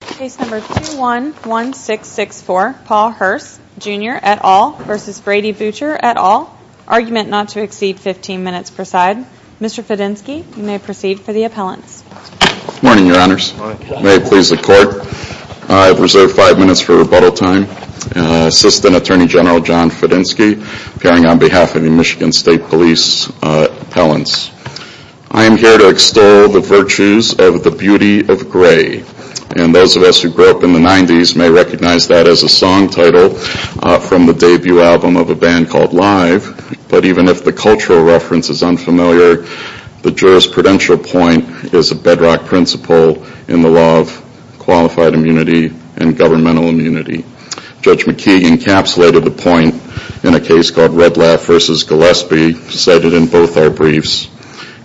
Case number 211664, Paul Harcz Jr et al. v. Brody Boucher et al., argument not to exceed 15 minutes per side. Mr. Fedenski, you may proceed for the appellants. Good morning, Your Honors. May it please the Court, I have reserved five minutes for rebuttal time. Assistant Attorney General John Fedenski, appearing on behalf of the Michigan State Police Appellants. I am here to extol the virtues of the beauty of gray, and those of us who grew up in the 90s may recognize that as a song title from the debut album of a band called Live, but even if the cultural reference is unfamiliar, the jurisprudential point is a bedrock principle in the law of qualified immunity and governmental immunity. Judge McKee encapsulated the point in a case called Red Laugh v. Gillespie, cited in both our briefs,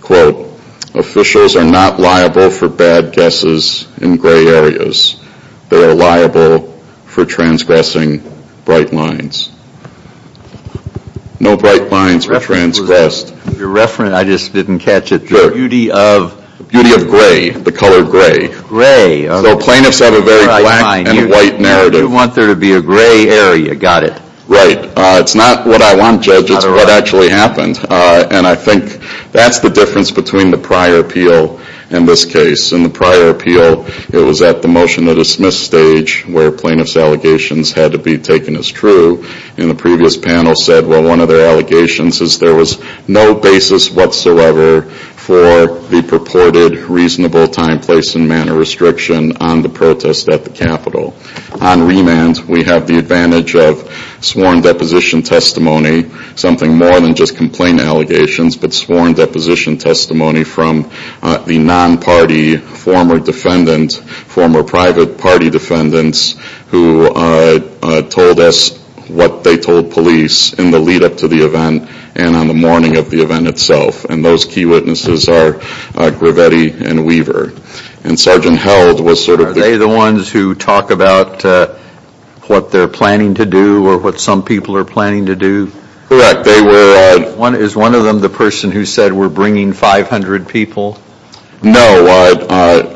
quote, Officials are not liable for bad guesses in gray areas. They are liable for transgressing bright lines. No bright lines were transgressed. Your reference, I just didn't catch it. Sure. Beauty of... Beauty of gray, the color gray. Gray. So plaintiffs have a very black and white narrative. You want there to be a gray area, got it. Right. It's not what I want, Judge, it's what actually happened. And I think that's the difference between the prior appeal and this case. In the prior appeal, it was at the motion to dismiss stage where plaintiff's allegations had to be taken as true. And the previous panel said, well, one of their allegations is there was no basis whatsoever for the purported reasonable time, place, and manner restriction on the protest at the Capitol. On remand, we have the advantage of sworn deposition testimony, something more than just complaint allegations, but sworn deposition testimony from the non-party former defendant, former private party defendants, who told us what they told police in the lead up to the event and on the morning of the event itself. And those key witnesses are Gravetti and Weaver. And Sergeant Held was sort of... You're talking about what they're planning to do or what some people are planning to do? Correct. They were... Is one of them the person who said, we're bringing 500 people? No.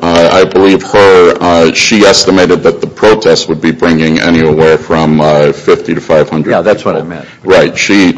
I believe her, she estimated that the protest would be bringing anywhere from 50 to 500 people. Yeah, that's what I meant. Right. She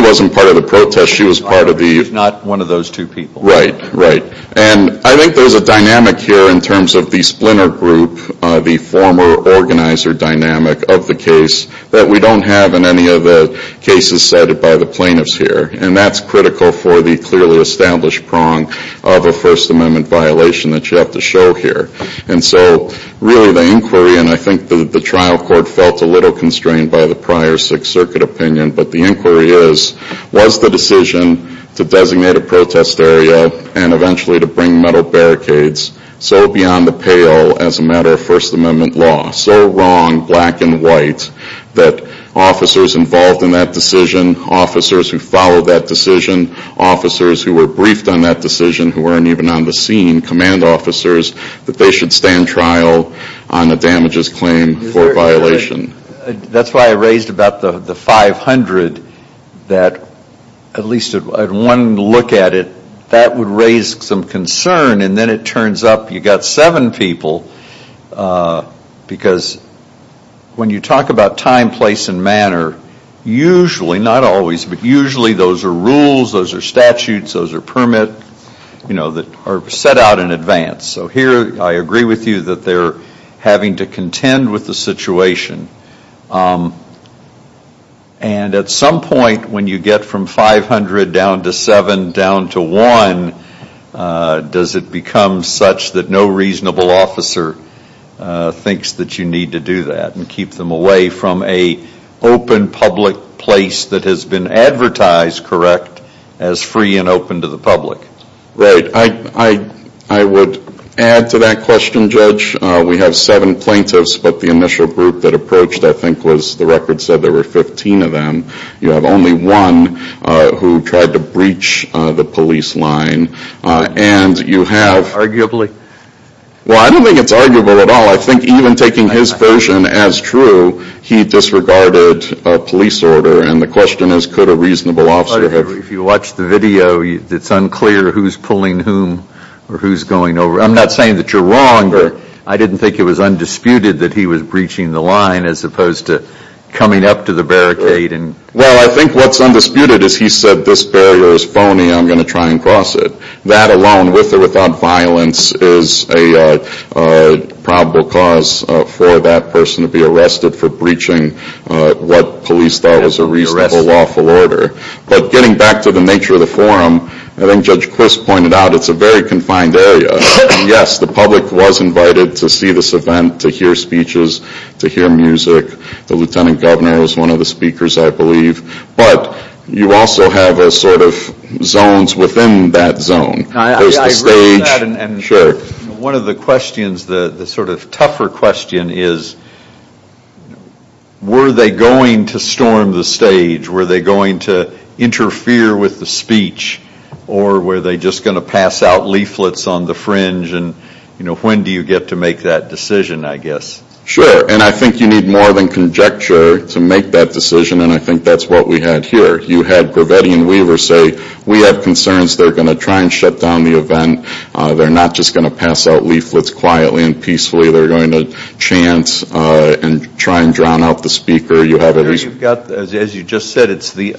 wasn't part of the protest. She was part of the... If not one of those two people. Right, right. And I think there's a dynamic here in terms of the splinter group, the former organizer dynamic of the case that we don't have in any of the cases cited by the plaintiffs here. And that's critical for the clearly established prong of a First Amendment violation that you have to show here. And so really the inquiry, and I think the trial court felt a little constrained by the prior Sixth Circuit opinion, but the inquiry is, was the decision to designate a protest area and eventually to bring metal barricades so beyond the pale as a matter of First Amendment law, so wrong, black and white, that officers involved in that decision, officers who followed that decision, officers who were briefed on that decision who weren't even on the scene, command officers, that they should stand trial on the damages claim for violation. That's why I raised about the 500 that, at least at one look at it, that would raise some concern. And then it turns up you've got seven people because when you talk about time, place, and manner, usually, not always, but usually those are rules, those are statutes, those are permit, you know, that are set out in advance. So here I agree with you that they're having to contend with the situation. And at some point when you get from 500 down to seven down to one, does it become such that no reasonable officer thinks that you need to do that and keep them away from a open public place that has been advertised, correct, as free and open to the public? Right. I would add to that question, Judge. We have seven plaintiffs, but the initial group that approached, I think, was, the record said there were 15 of them. You have only one who tried to breach the police line. And you have... Arguably? Well, I don't think it's arguable at all. I think even taking his version as true, he disregarded a police order. And the question is, could a reasonable officer have... If you watch the video, it's unclear who's pulling whom or who's going over. I'm not saying that you're wrong, but I didn't think it was undisputed that he was breaching the line as opposed to coming up to the barricade and... Well, I think what's undisputed is he said, this barrier is phony, I'm going to try and cross it. That alone, with or without violence, is a probable cause for that person to be arrested for breaching what police thought was a reasonable lawful order. But getting back to the nature of the forum, I think Judge Quist pointed out, it's a very confined area. Yes, the public was invited to see this event, to hear speeches, to hear music. The Lieutenant Governor was one of the speakers, I believe. But you also have a sort of zones within that zone. I agree with that and one of the questions, the sort of tougher question is, were they going to storm the stage? Were they going to interfere with the speech? Or were they just going to pass out leaflets on the fringe? When do you get to make that decision, I guess? Sure, and I think you need more than conjecture to make that decision and I think that's what we had here. You had Gravetti and Weaver say, we have concerns, they're going to try and shut down the event. They're not just going to pass out leaflets quietly and peacefully. They're going to chant and try and drown out the speaker. You've got, as you just said, it's the,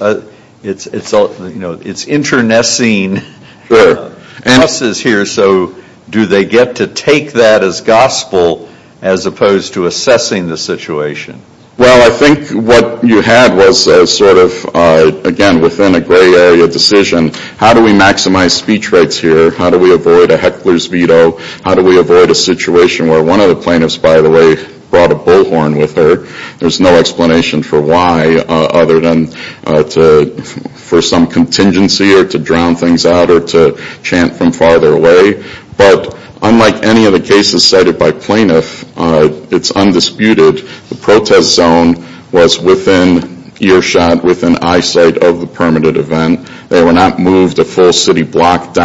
it's internecine process here, so do they get to take that as gospel as opposed to assessing the situation? Well, I think what you had was a sort of, again, within a gray area decision. How do we maximize speech rights here? How do we avoid a heckler's veto? How do we avoid a heckler's veto? One of the plaintiffs, by the way, brought a bullhorn with her. There's no explanation for why other than for some contingency or to drown things out or to chant from farther away. But unlike any of the cases cited by plaintiffs, it's undisputed the protest zone was within earshot, within eyesight of the permitted event. They were not moved a third circuit case, the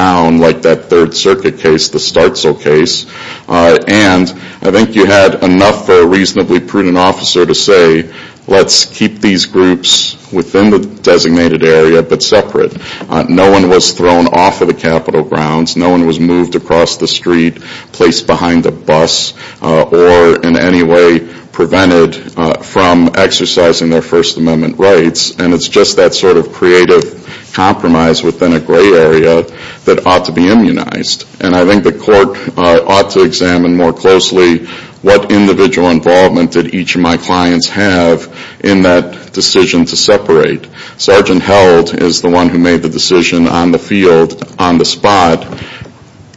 Startzel case. And I think you had enough for a reasonably prudent officer to say, let's keep these groups within the designated area, but separate. No one was thrown off of the Capitol grounds. No one was moved across the street, placed behind a bus, or in any way prevented from exercising their First Amendment rights. And it's just that sort of creative compromise within a gray area that ought to be immunized. And I think the court ought to examine more closely what individual involvement did each of my clients have in that decision to separate. Sergeant Held is the one who made the decision on the field, on the spot,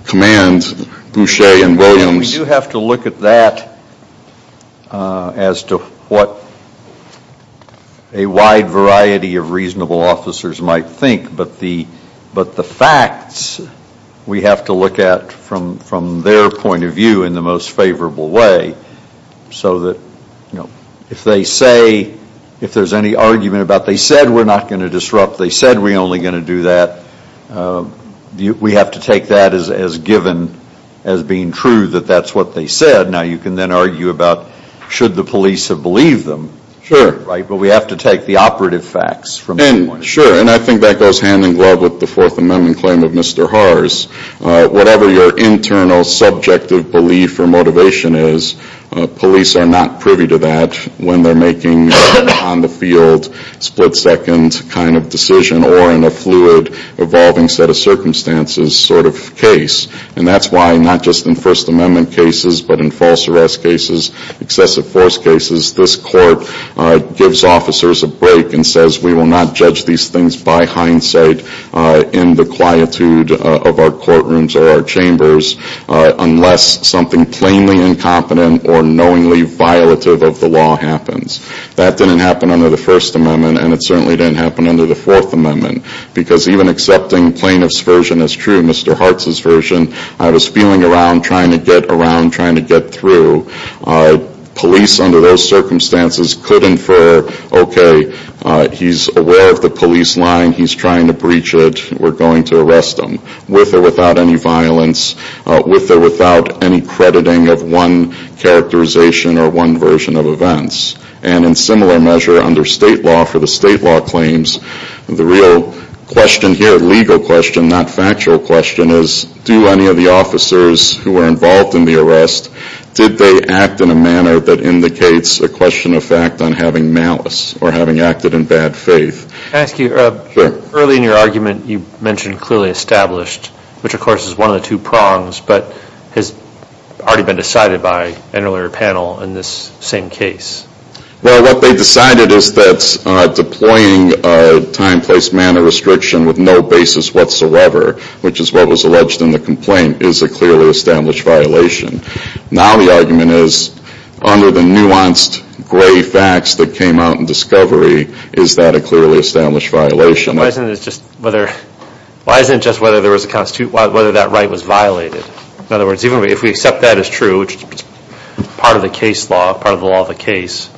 command Boucher and Williams. We do have to look at that as to what a wide variety of reasonable officers might think, but the facts we have to look at from their point of view in the most favorable way so that if they say, if there's any argument about they said we're not going to disrupt, they said we're only going to do that, we have to take that as given as being true that that's what they said. Now you can then argue about should the police have believed them. Sure. Right? But we have to take the operative facts from their point of view. Sure. And I think that goes hand in glove with the Fourth Amendment claim of Mr. Haar's. Whatever your internal subjective belief or motivation is, police are not privy to that when they're making on the field split second kind of decision or in a fluid evolving set of circumstances sort of case. And that's why not just in First Amendment cases, but in false arrest cases, excessive force cases, this court gives officers a break and says we will not judge these things by hindsight in the quietude of our courtrooms or our chambers unless something plainly incompetent or knowingly violative of the law happens. That didn't happen under the First Amendment and it certainly didn't happen under the Fourth Amendment. Because even accepting plaintiff's version as true, Mr. Haar's version, I was feeling around trying to get around trying to get through. Police under those circumstances could infer, okay, he's aware of the police line, he's trying to breach it, we're going to arrest him with or without any violence, with or without any crediting of one characterization or one version of events. And in similar measure under state law for the state law claims, the real question here, legal question, not factual question, is do any of the officers who were involved in the arrest, did they act in a manner that indicates a question of fact on having malice or having acted in bad faith? Can I ask you, early in your argument you mentioned clearly established, which of course is one of the two prongs, but has already been decided by an earlier panel in this same case. Well, what they decided is that deploying a time, place, manner restriction with no basis whatsoever, which is what was alleged in the complaint, is a clearly established violation. Now the argument is, under the nuanced gray facts that came out in discovery, is that a clearly established violation? Why isn't it just whether, why isn't it just whether there was a, whether that right was violated? In other words, even if we accept that as true, which is part of the case law, part of the law of the case,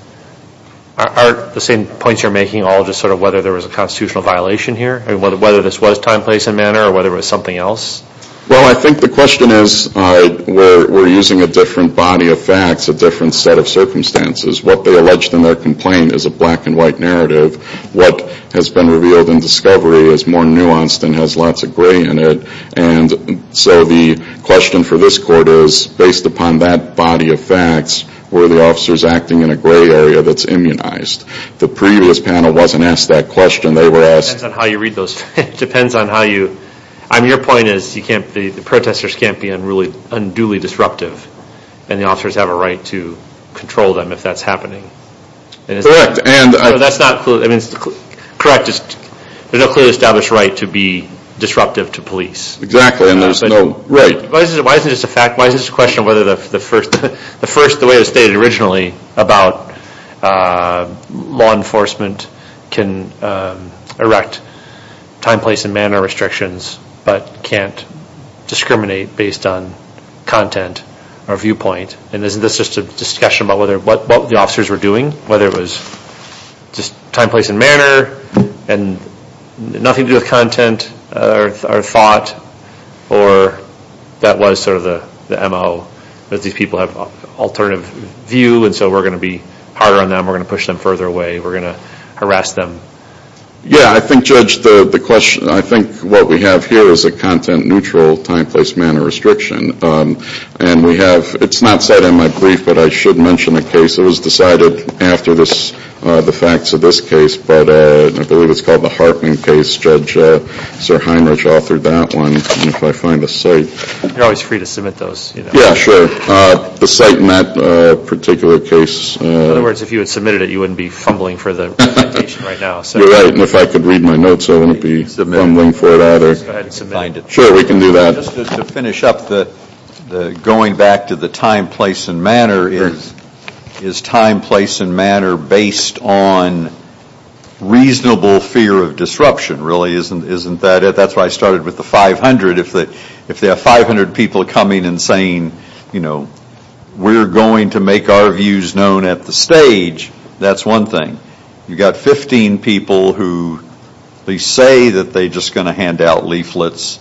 are the same points you're making all just sort of whether there was a constitutional violation here? I mean, whether this was time, place, and manner or whether it was something else? Well, I think the question is, we're using a different body of facts, a different set of circumstances. What they alleged in their complaint is a black and white narrative. What has been revealed in discovery is more nuanced and has lots of gray in it. And so the question for this court is, based upon that body of facts, were the officers acting in a gray area that's immunized? The previous panel wasn't asked that question. They were asked... It depends on how you read those. It depends on how you... I mean, your point is, you can't the protestors can't be unduly disruptive and the officers have a right to control them if that's happening. Correct. And... So that's not... I mean, correct. There's no clearly established right to be disruptive to police. Exactly. And there's no... Right. Why isn't this a fact? Why is this a question of whether the first, the way it was stated originally about law enforcement can erect time, place, and manner restrictions but can't discriminate based on content or viewpoint? And isn't this just a discussion about what the officers were doing? Whether it was just time, place, and manner and nothing to do with content or thought or that was sort of the MO, that these people have alternative view, and so we're going to be harder on them. We're going to push them further away. We're going to harass them. Yeah. I think, Judge, the question... I think what we have here is a content-neutral time, place, manner restriction. And we have... It's not set in my brief, but I should mention the case. It was decided after this, the facts of this case, but I believe it's called the Hartman case. Judge Sir Heinrich authored that one. If I find the site... You're always free to submit those. Yeah, sure. The site in that particular case... In other words, if you had submitted it, you wouldn't be fumbling for the presentation right now. You're right. And if I could read my notes, I wouldn't be fumbling for that. Go ahead and submit it. Sure, we can do that. Just to finish up, going back to the time, place, and manner, is time, place, and manner based on reasonable fear of disruption, really? Isn't that it? That's why I started with the 500. If there are 500 people coming and saying, you know, we're going to make our views known at the stage, that's one thing. You've got 15 people who say that they're just going to hand out leaflets.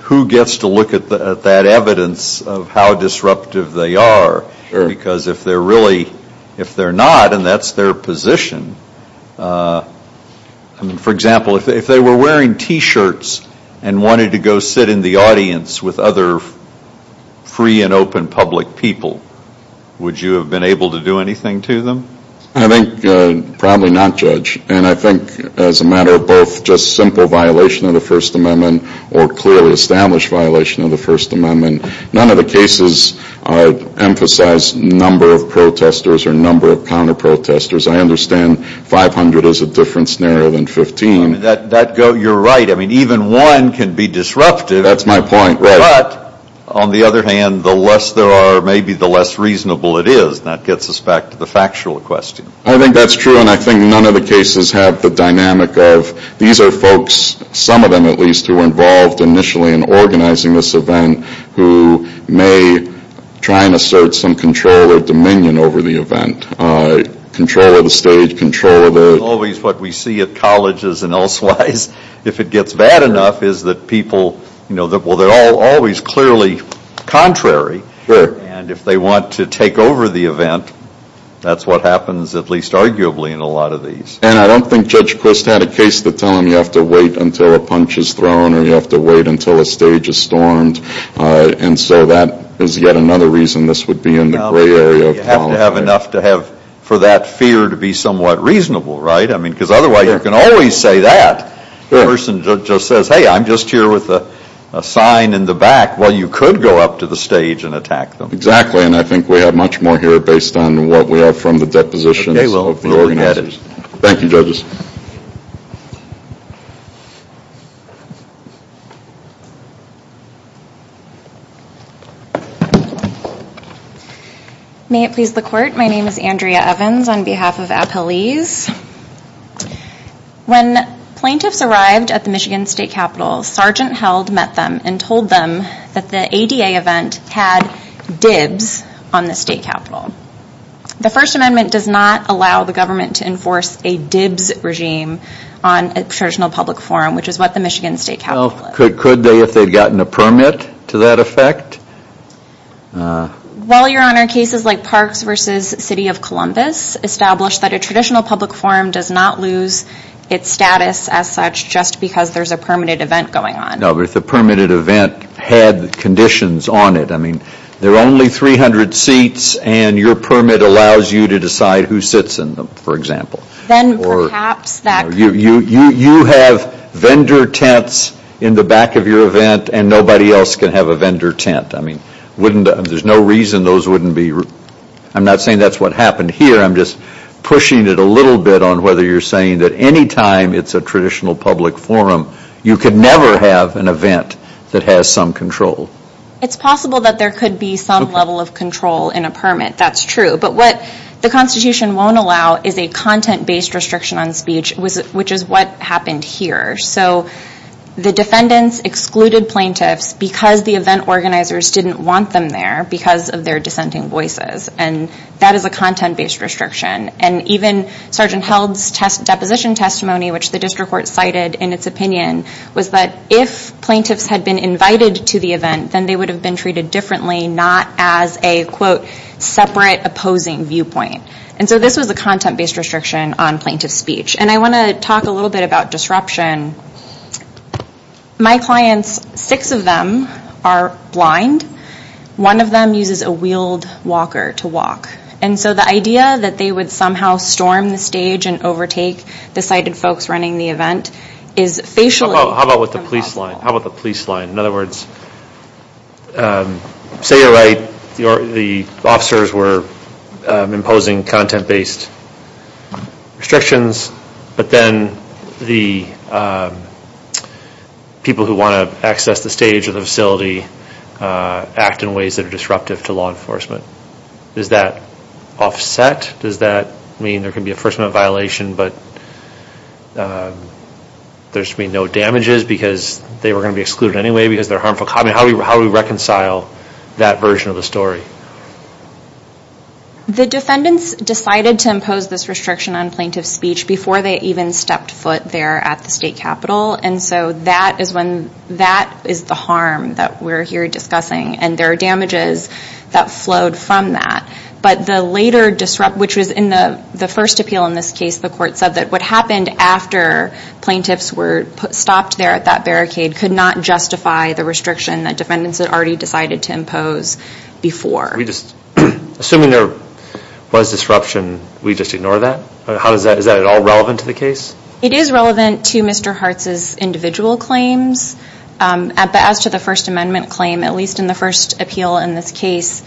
Who gets to look at that evidence of how disruptive they are? Because if they're not, and that's their position... For example, if they were wearing t-shirts and wanted to go sit in the audience with other free and open public people, would you have been able to do anything to them? I think probably not, Judge. And I think as a matter of both just simple violation of the First Amendment or clearly established violation of the First Amendment, none of the cases emphasize number of protesters or number of counter-protesters. I understand 500 is a different scenario than 15. You're right. I mean, even one can be disruptive. That's my point, right. But, on the other hand, the less there are, maybe the less reasonable it is. That gets us back to the factual question. I think that's true, and I think none of the cases have the dynamic of, these are folks, some of them at least, who were involved initially in organizing this event who may try and assert some control or dominion over the event. Control of the stage, control of the... It's always what we see at colleges and elsewise. If it gets bad enough, is that people, well, they're always clearly contrary, and if they want to take over the event, that's what happens at least arguably in a lot of these. And I don't think Judge Quist had a case that told him you have to wait until a punch is thrown or you have to wait until a stage is stormed. And so that is yet another reason this would be in the gray area of politics. To have enough to have, for that fear to be somewhat reasonable, right? I mean, because otherwise you can always say that. The person just says, hey, I'm just here with a sign in the back. Well, you could go up to the stage and attack them. Exactly, and I think we have much more here based on what we have from the depositions of the organizers. Okay, well, we'll look at it. Thank you, judges. May it please the Court, my name is Andrea Evans on behalf of Appalese. When plaintiffs arrived at the Michigan State Capitol, Sergeant Held met them and told them that the ADA event had dibs on the State Capitol. The First Amendment does not allow the government to enforce a diplomatic regime on a traditional public forum, which is what the Michigan State Capitol is. Well, could they if they had gotten a permit to that effect? Well, Your Honor, cases like Parks v. City of Columbus established that a traditional public forum does not lose its status as such just because there is a permitted event going on. No, but if the permitted event had conditions on it, I mean, there are only 300 seats and your permit allows you to decide who sits in them, for example. Then perhaps that could be true. You have vendor tents in the back of your event and nobody else can have a vendor tent. I mean, wouldn't, there's no reason those wouldn't be, I'm not saying that's what happened here, I'm just pushing it a little bit on whether you're saying that any time it's a traditional public forum, you could never have an event that has some control. It's possible that there could be some level of control in a permit, that's true. But what the Constitution won't allow is a content-based restriction on speech, which is what happened here. So the defendants excluded plaintiffs because the event organizers didn't want them there because of their dissenting voices. And that is a content-based restriction. And even Sergeant Held's deposition testimony, which the district court cited in its opinion, was that if plaintiffs had been invited to the event, then they would have been treated differently, not as a, quote, separate opposing viewpoint. And so this was a content-based restriction on plaintiff speech. And I want to talk a little bit about disruption. My clients, six of them are blind. One of them uses a wheeled walker to walk. And so the idea that they would somehow storm the stage and overtake the sighted folks running the event is facially impossible. How about the police line? In other words, say you're right, the officers were imposing content-based restrictions, but then the people who want to access the stage or the facility act in ways that are disruptive to law enforcement. Is that offset? Does that mean there can be a first-minute violation, but there should be no damages because they were going to be excluded anyway because they're harmful? How do we reconcile that version of the story? The defendants decided to impose this restriction on plaintiff speech before they even stepped foot there at the state capitol. And so that is the harm that we're here discussing. And there are damages that flowed from that. But the later disrupt, which was in the first appeal in this case, the court said that what happened after plaintiffs were stopped there at that barricade could not justify the restriction that defendants had already decided to impose before. Assuming there was disruption, we just ignore that? Is that at all relevant to the case? It is relevant to Mr. Hartz's individual claims. But as to the First Amendment claim, at least in the first appeal in this case,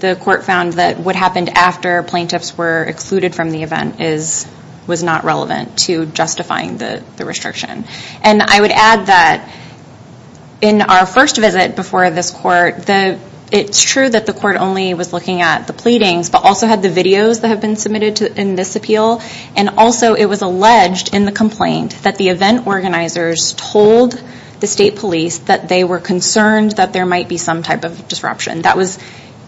the court found that what happened after plaintiffs were excluded from the event was not relevant to justifying the restriction. And I would add that in our first visit before this court, it's true that the court only was looking at the pleadings but also had the videos that have been submitted in this appeal. And also it was alleged in the complaint that the event organizers told the state police that they were concerned that there might be some type of disruption. That was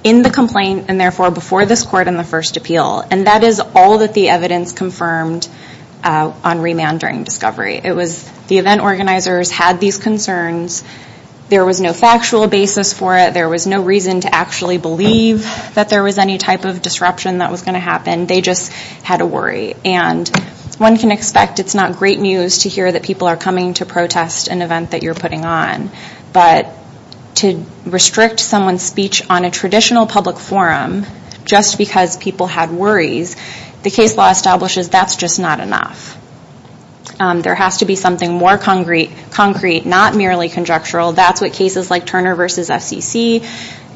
in the complaint and therefore before this court in the first appeal. And that is all that the evidence confirmed on remand during discovery. The event organizers had these concerns. There was no factual basis for it. There was no reason to actually believe that there was any type of disruption that was going to happen. They just had a worry. And one can expect it's not great news to hear that people are coming to protest an event that you're putting on. But to restrict someone's speech on a traditional public forum just because people had worries, the case law establishes that's just not enough. There has to be something more concrete, not merely conjectural. That's what cases like Turner v. FCC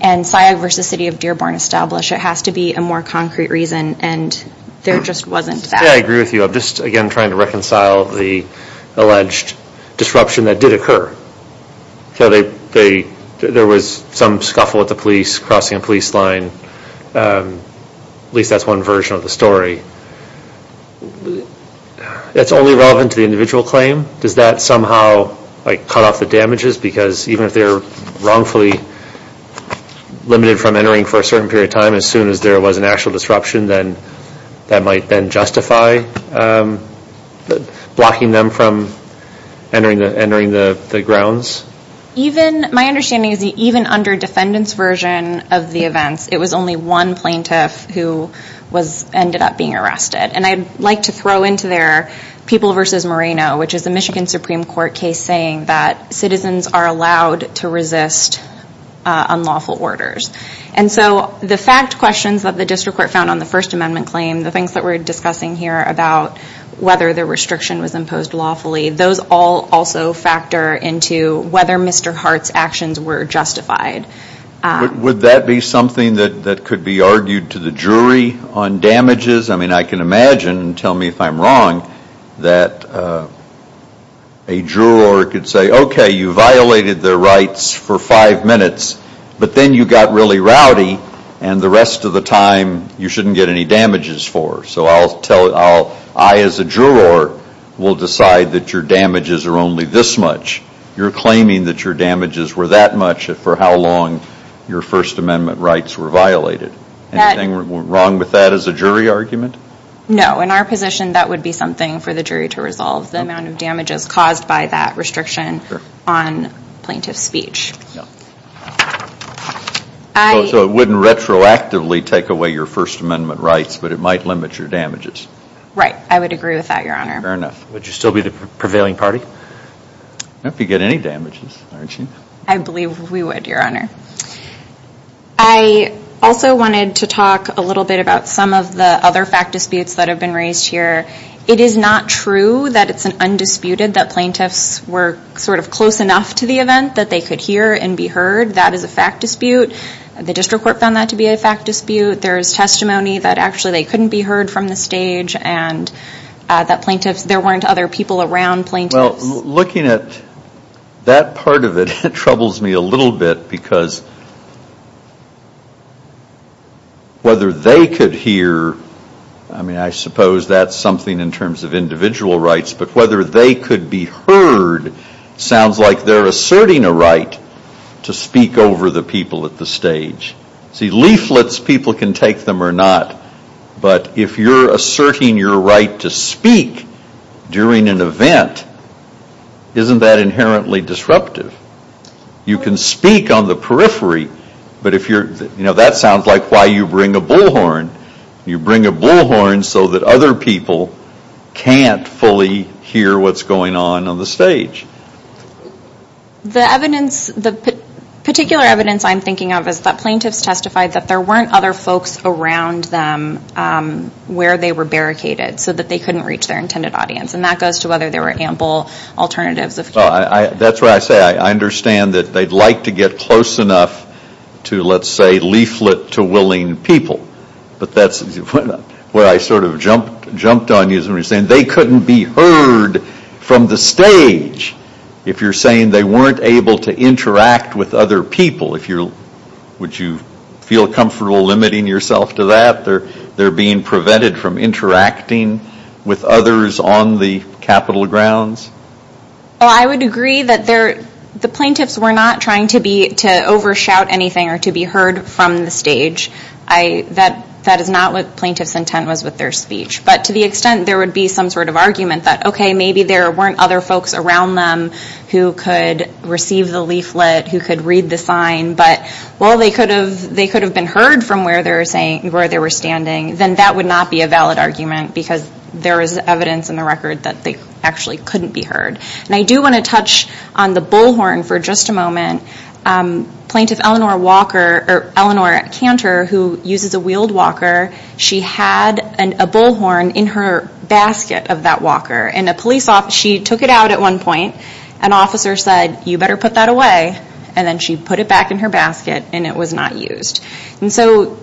and Sayag v. City of Dearborn establish. It has to be a more concrete reason and there just wasn't that. Yeah, I agree with you. I'm just again trying to reconcile the alleged disruption that did occur. There was some scuffle with the police crossing a police line, at least that's one version of the story. It's only relevant to the individual claim. Does that somehow cut off the damages because even if they're wrongfully limited from entering for a certain period of time, as soon as there was an actual disruption, then that might then justify blocking them from entering the grounds? My understanding is that even under defendant's version of the events, it was only one plaintiff who ended up being arrested. And I'd like to throw into there People v. Moreno, which is a Michigan Supreme Court case saying that citizens are allowed to resist unlawful orders. So the fact questions that the District Court found on the First Amendment claim, the things that we're discussing here about whether the restriction was imposed lawfully, those all also factor into whether Mr. Hart's actions were justified. Would that be something that could be argued to the jury on damages? I can imagine, tell me if I'm wrong, that a juror could say, okay, you violated their rights. You're really rowdy. And the rest of the time, you shouldn't get any damages for. So I as a juror will decide that your damages are only this much. You're claiming that your damages were that much for how long your First Amendment rights were violated. Anything wrong with that as a jury argument? No. In our position, that would be something for the jury to resolve, the amount of damages caused by that restriction on plaintiff's speech. So it wouldn't retroactively take away your First Amendment rights, but it might limit your damages? Right. I would agree with that, Your Honor. Fair enough. Would you still be the prevailing party? Not if you get any damages, aren't you? I believe we would, Your Honor. I also wanted to talk a little bit about some of the other fact disputes that have been raised here. It is not true that it's undisputed that plaintiffs were close enough to the event that they could hear and be heard. That is a fact dispute. The district court found that to be a fact dispute. There's testimony that actually they couldn't be heard from the stage and that there weren't other people around plaintiffs. Looking at that part of it troubles me a little bit because whether they could hear, I suppose that's something in terms of individual rights, but whether they could be heard sounds like they're asserting a right to speak over the people at the stage. See leaflets, people can take them or not, but if you're asserting your right to speak during an event, isn't that inherently disruptive? You can speak on the periphery, but if you're, you know, that sounds like why you bring a bullhorn. You bring a bullhorn so that other people can't fully hear what's going on on the stage. The evidence, the particular evidence I'm thinking of is that plaintiffs testified that there weren't other folks around them where they were barricaded so that they couldn't reach their intended audience. And that goes to whether there were ample alternatives. That's what I say. I understand that they'd like to get close enough to, let's say, leaflet to willing people, but that's where I sort of jumped on you as we were saying they couldn't be heard from the stage. If you're saying they weren't able to interact with other people, if you're, would you feel comfortable limiting yourself to that? They're being prevented from interacting with others on the capital grounds? Well, I would agree that the plaintiffs were not trying to be, to overshout anything or to be heard from the stage. That is not what plaintiff's intent was with their speech. But to the extent there would be some sort of argument that, okay, maybe there weren't other folks around them who could receive the leaflet, who could read the sign, but while they could have been heard from where they were standing, then that would not be a valid argument because there is evidence in the record that they actually couldn't be heard. And I do want to touch on the bullhorn for just a moment. Plaintiff Eleanor Walker, or Eleanor Cantor, who uses a wheeled walker, she had a bullhorn in her basket of that walker. And a police officer, she took it out at one point. An officer said, you better put that away. And then she put it back in her basket and it was not used. And so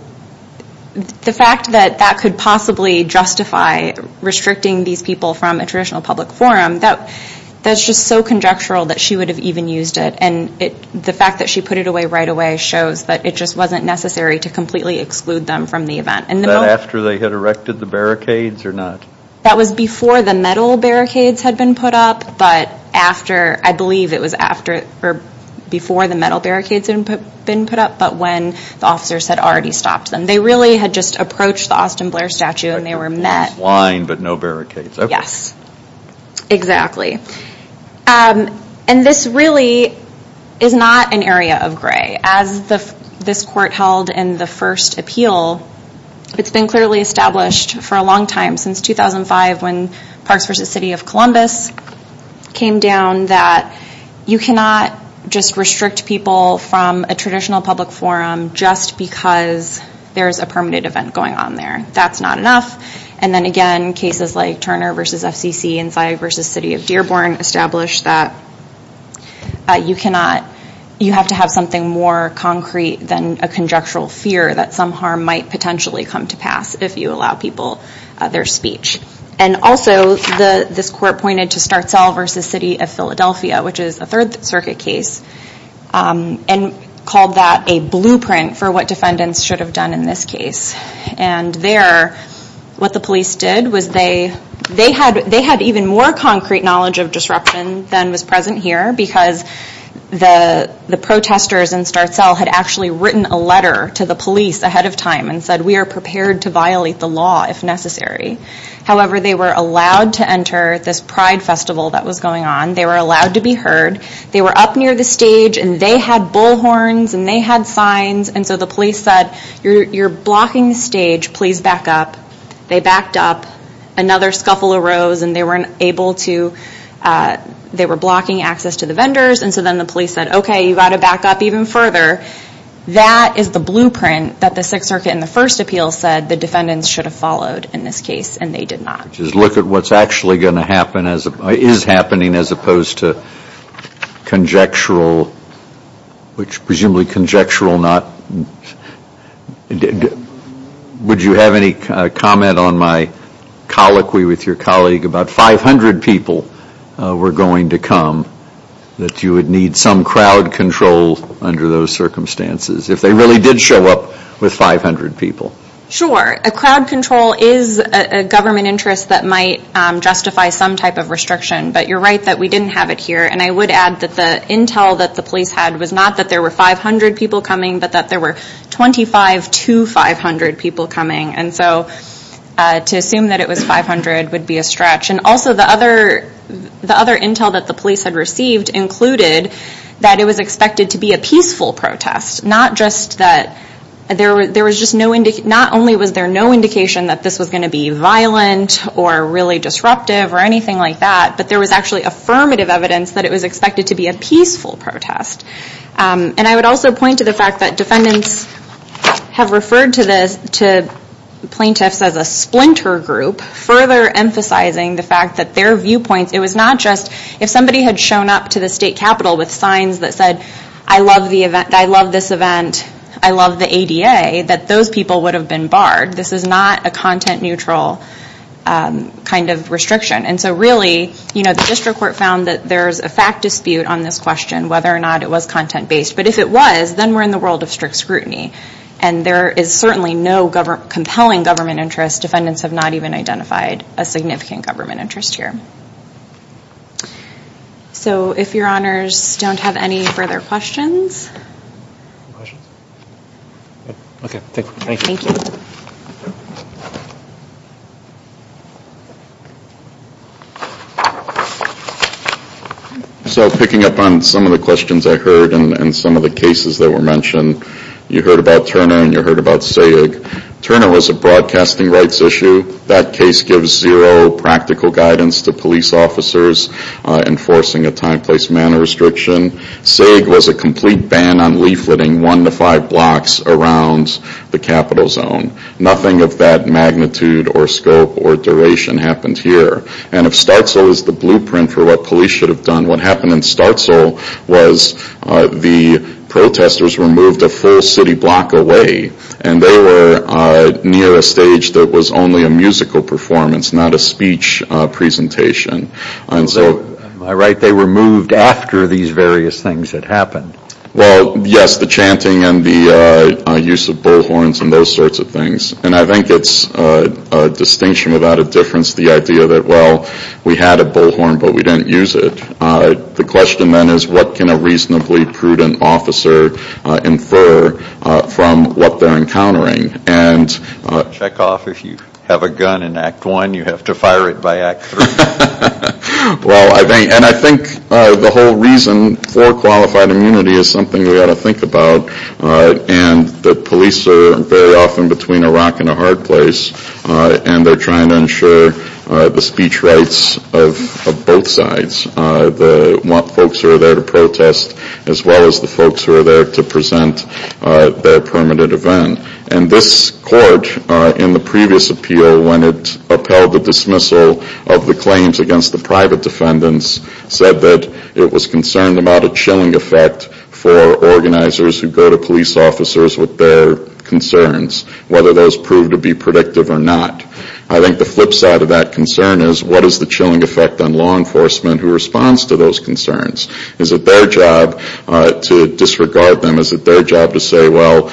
the fact that that could possibly justify restricting these people from a traditional public forum, that's just so conjectural that she would have even used it. And the fact that she put it away right away shows that it just wasn't necessary to completely exclude them from the event. And the moment... Was that after they had erected the barricades or not? That was before the metal barricades had been put up, but after, I believe it was before the metal barricades had been put up, but when the officers had already stopped them. They really had just approached the Austin Blair statue and they were met. Like a cross line, but no barricades. Yes, exactly. And this really is not an area of gray. As this court held in the first appeal, it's been clearly established for a long time, since 2005 when Parks versus City of Columbus came down, that you cannot just restrict people from a traditional public forum just because there's a permitted event going on there. That's not enough. And then again, cases like Turner versus FCC and Cy versus City of Dearborn established that you have to have something more concrete than a conjectural fear that some harm might potentially come to pass if you allow people their speech. And also, this court pointed to Startzell versus City of Philadelphia, which is a Third Circuit case and called that a blueprint for what defendants should have done in this case. And there, what the police did was they had even more concrete knowledge of disruption than was present here because the protesters in Startzell had actually written a letter to the police ahead of time and said, we are prepared to violate the law if necessary. However, they were allowed to enter this Pride Festival that was going on. They were allowed to be heard. They were up near the stage and they had bullhorns and they had signs. And so the police said, you're blocking the stage. Please back up. They backed up. Another scuffle arose and they weren't able to, they were blocking access to the vendors. And so then the police said, okay, you've got to back up even further. That is the blueprint that the Sixth Circuit in the first appeal said the defendants should have followed in this case. And they did not. Just look at what's actually going to happen, is happening as opposed to conjectural, which presumably conjectural not, would you have any comment on my colloquy with your colleague about 500 people were going to come that you would need some crowd control under those circumstances if they really did show up with 500 people? Sure. A crowd control is a government interest that might justify some type of restriction. But you're right that we didn't have it here. And I would add that the intel that the police had was not that there were 500 people coming, but that there were 25 to 500 people coming. And so to assume that it was 500 would be a stretch. And also the other intel that the police had received included that it was expected to be a peaceful protest. Not just that there was just no indication, not only was there no indication that this was going to be violent or really disruptive or anything like that, but there was actually affirmative evidence that it was expected to be a peaceful protest. And I would also point to the fact that defendants have referred to plaintiffs as a splinter group, further emphasizing the fact that their viewpoints, it was not just, if somebody had shown up to the state capitol with signs that said, I love the event, I love this event, I love the ADA, that those people would have been barred. This is not a content neutral kind of restriction. And so really, you know, the district court found that there's a fact dispute on this question whether or not it was content based. But if it was, then we're in the world of strict scrutiny. And there is certainly no compelling government interest. Defendants have not even identified a significant government interest here. So if your honors don't have any further questions. Questions? Okay, thank you. Thank you. So picking up on some of the questions I heard and some of the cases that were mentioned, you heard about Turner and you heard about Sayegh. Turner was a broadcasting rights issue. That case gives zero practical guidance to police officers enforcing a time, place, manner restriction. Sayegh was a complete ban on leafleting one to five blocks around the capitol zone. Nothing of that magnitude or scope or duration happened here. And if Starzl is the blueprint for what police should have done, what happened in Starzl was the protestors were moved a full city block away. And they were near a stage that was only a musical performance, not a speech presentation. And so. Am I right? They were moved after these various things had happened. Well, yes, the chanting and the use of bullhorns and those sorts of things. And I think it's a distinction without a difference, the idea that, well, we had a bullhorn, but we didn't use it. The question then is, what can a reasonably prudent officer infer from what they're encountering? And. Check off if you have a gun in Act One, you have to fire it by Act Three. Well, I think. And I think the whole reason for qualified immunity is something you've got to think about. And the police are very often between a rock and a hard place. And they're trying to ensure the speech rights of both sides. The folks who are there to protest, as well as the folks who are there to present their permanent event. And this court, in the previous appeal, when it upheld the dismissal of the claims against the private defendants, said that it was concerned about a chilling effect for organizers who go to police officers with their concerns. Whether those prove to be predictive or not. I think the flip side of that concern is, what is the chilling effect on law enforcement who responds to those concerns? Is it their job to disregard them? Is it their job to say, well,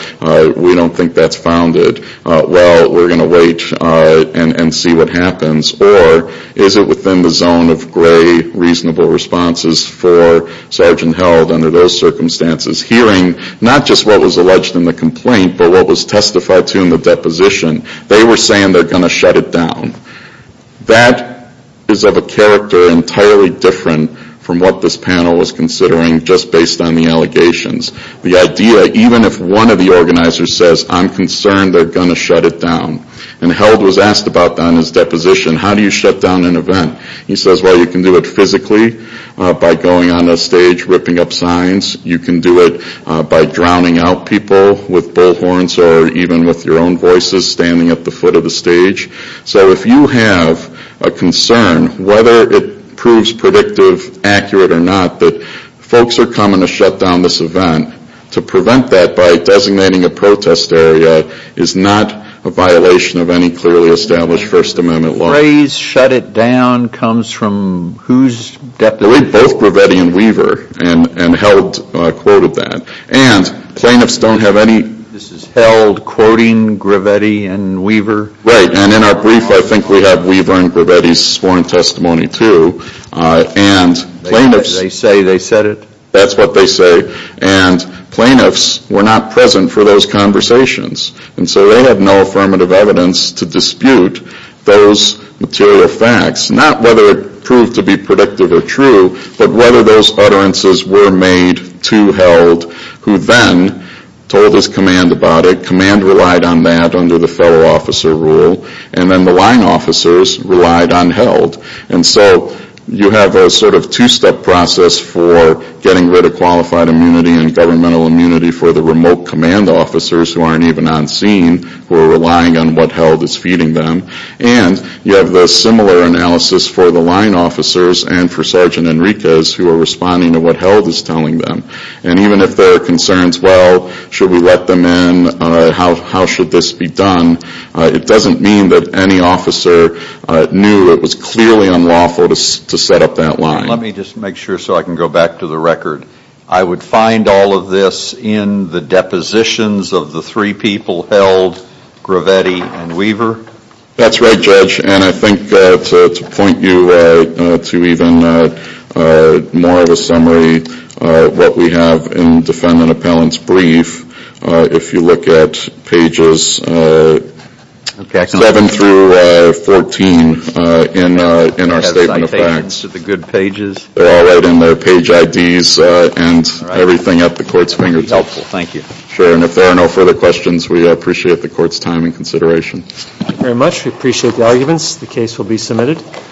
we don't think that's founded. Well, we're going to wait and see what happens. Or is it within the zone of gray, reasonable responses for sergeant held under those circumstances, hearing not just what was alleged in the complaint, but what was testified to in the deposition. They were saying they're going to shut it down. That is of a character entirely different from what this panel was considering, just based on the allegations. The idea, even if one of the organizers says, I'm concerned, they're going to shut it down. And held was asked about that in his deposition, how do you shut down an event? He says, well, you can do it physically by going on a stage, ripping up signs. You can do it by drowning out people with bullhorns or even with your own voices standing at the foot of the stage. So if you have a concern, whether it proves predictive, accurate or not, that folks are coming to shut down this event. To prevent that by designating a protest area is not a violation of any clearly established First Amendment law. The phrase shut it down comes from whose deposition? Both Gravetti and Weaver, and held quoted that. And plaintiffs don't have any- This is held quoting Gravetti and Weaver? Right, and in our brief, I think we have Weaver and Gravetti's sworn testimony too, and plaintiffs- They say they said it? That's what they say, and plaintiffs were not present for those conversations. And so they have no affirmative evidence to dispute those material facts. Not whether it proved to be predictive or true, but whether those utterances were made to held, who then told his command about it. Command relied on that under the fellow officer rule, and then the line officers relied on held. And so you have a sort of two-step process for getting rid of qualified immunity and on scene, who are relying on what held is feeding them. And you have the similar analysis for the line officers and for Sergeant Enriquez, who are responding to what held is telling them. And even if there are concerns, well, should we let them in, how should this be done? It doesn't mean that any officer knew it was clearly unlawful to set up that line. Let me just make sure so I can go back to the record. I would find all of this in the depositions of the three people held, Gravetti and Weaver. That's right, Judge. And I think to point you to even more of a summary, what we have in defendant appellant's brief, if you look at pages seven through 14 in our statement of facts. To the good pages. They're all right in there, page IDs and everything at the court's fingertips. Helpful, thank you. Sure, and if there are no further questions, we appreciate the court's time and consideration. Thank you very much, we appreciate the arguments. The case will be submitted.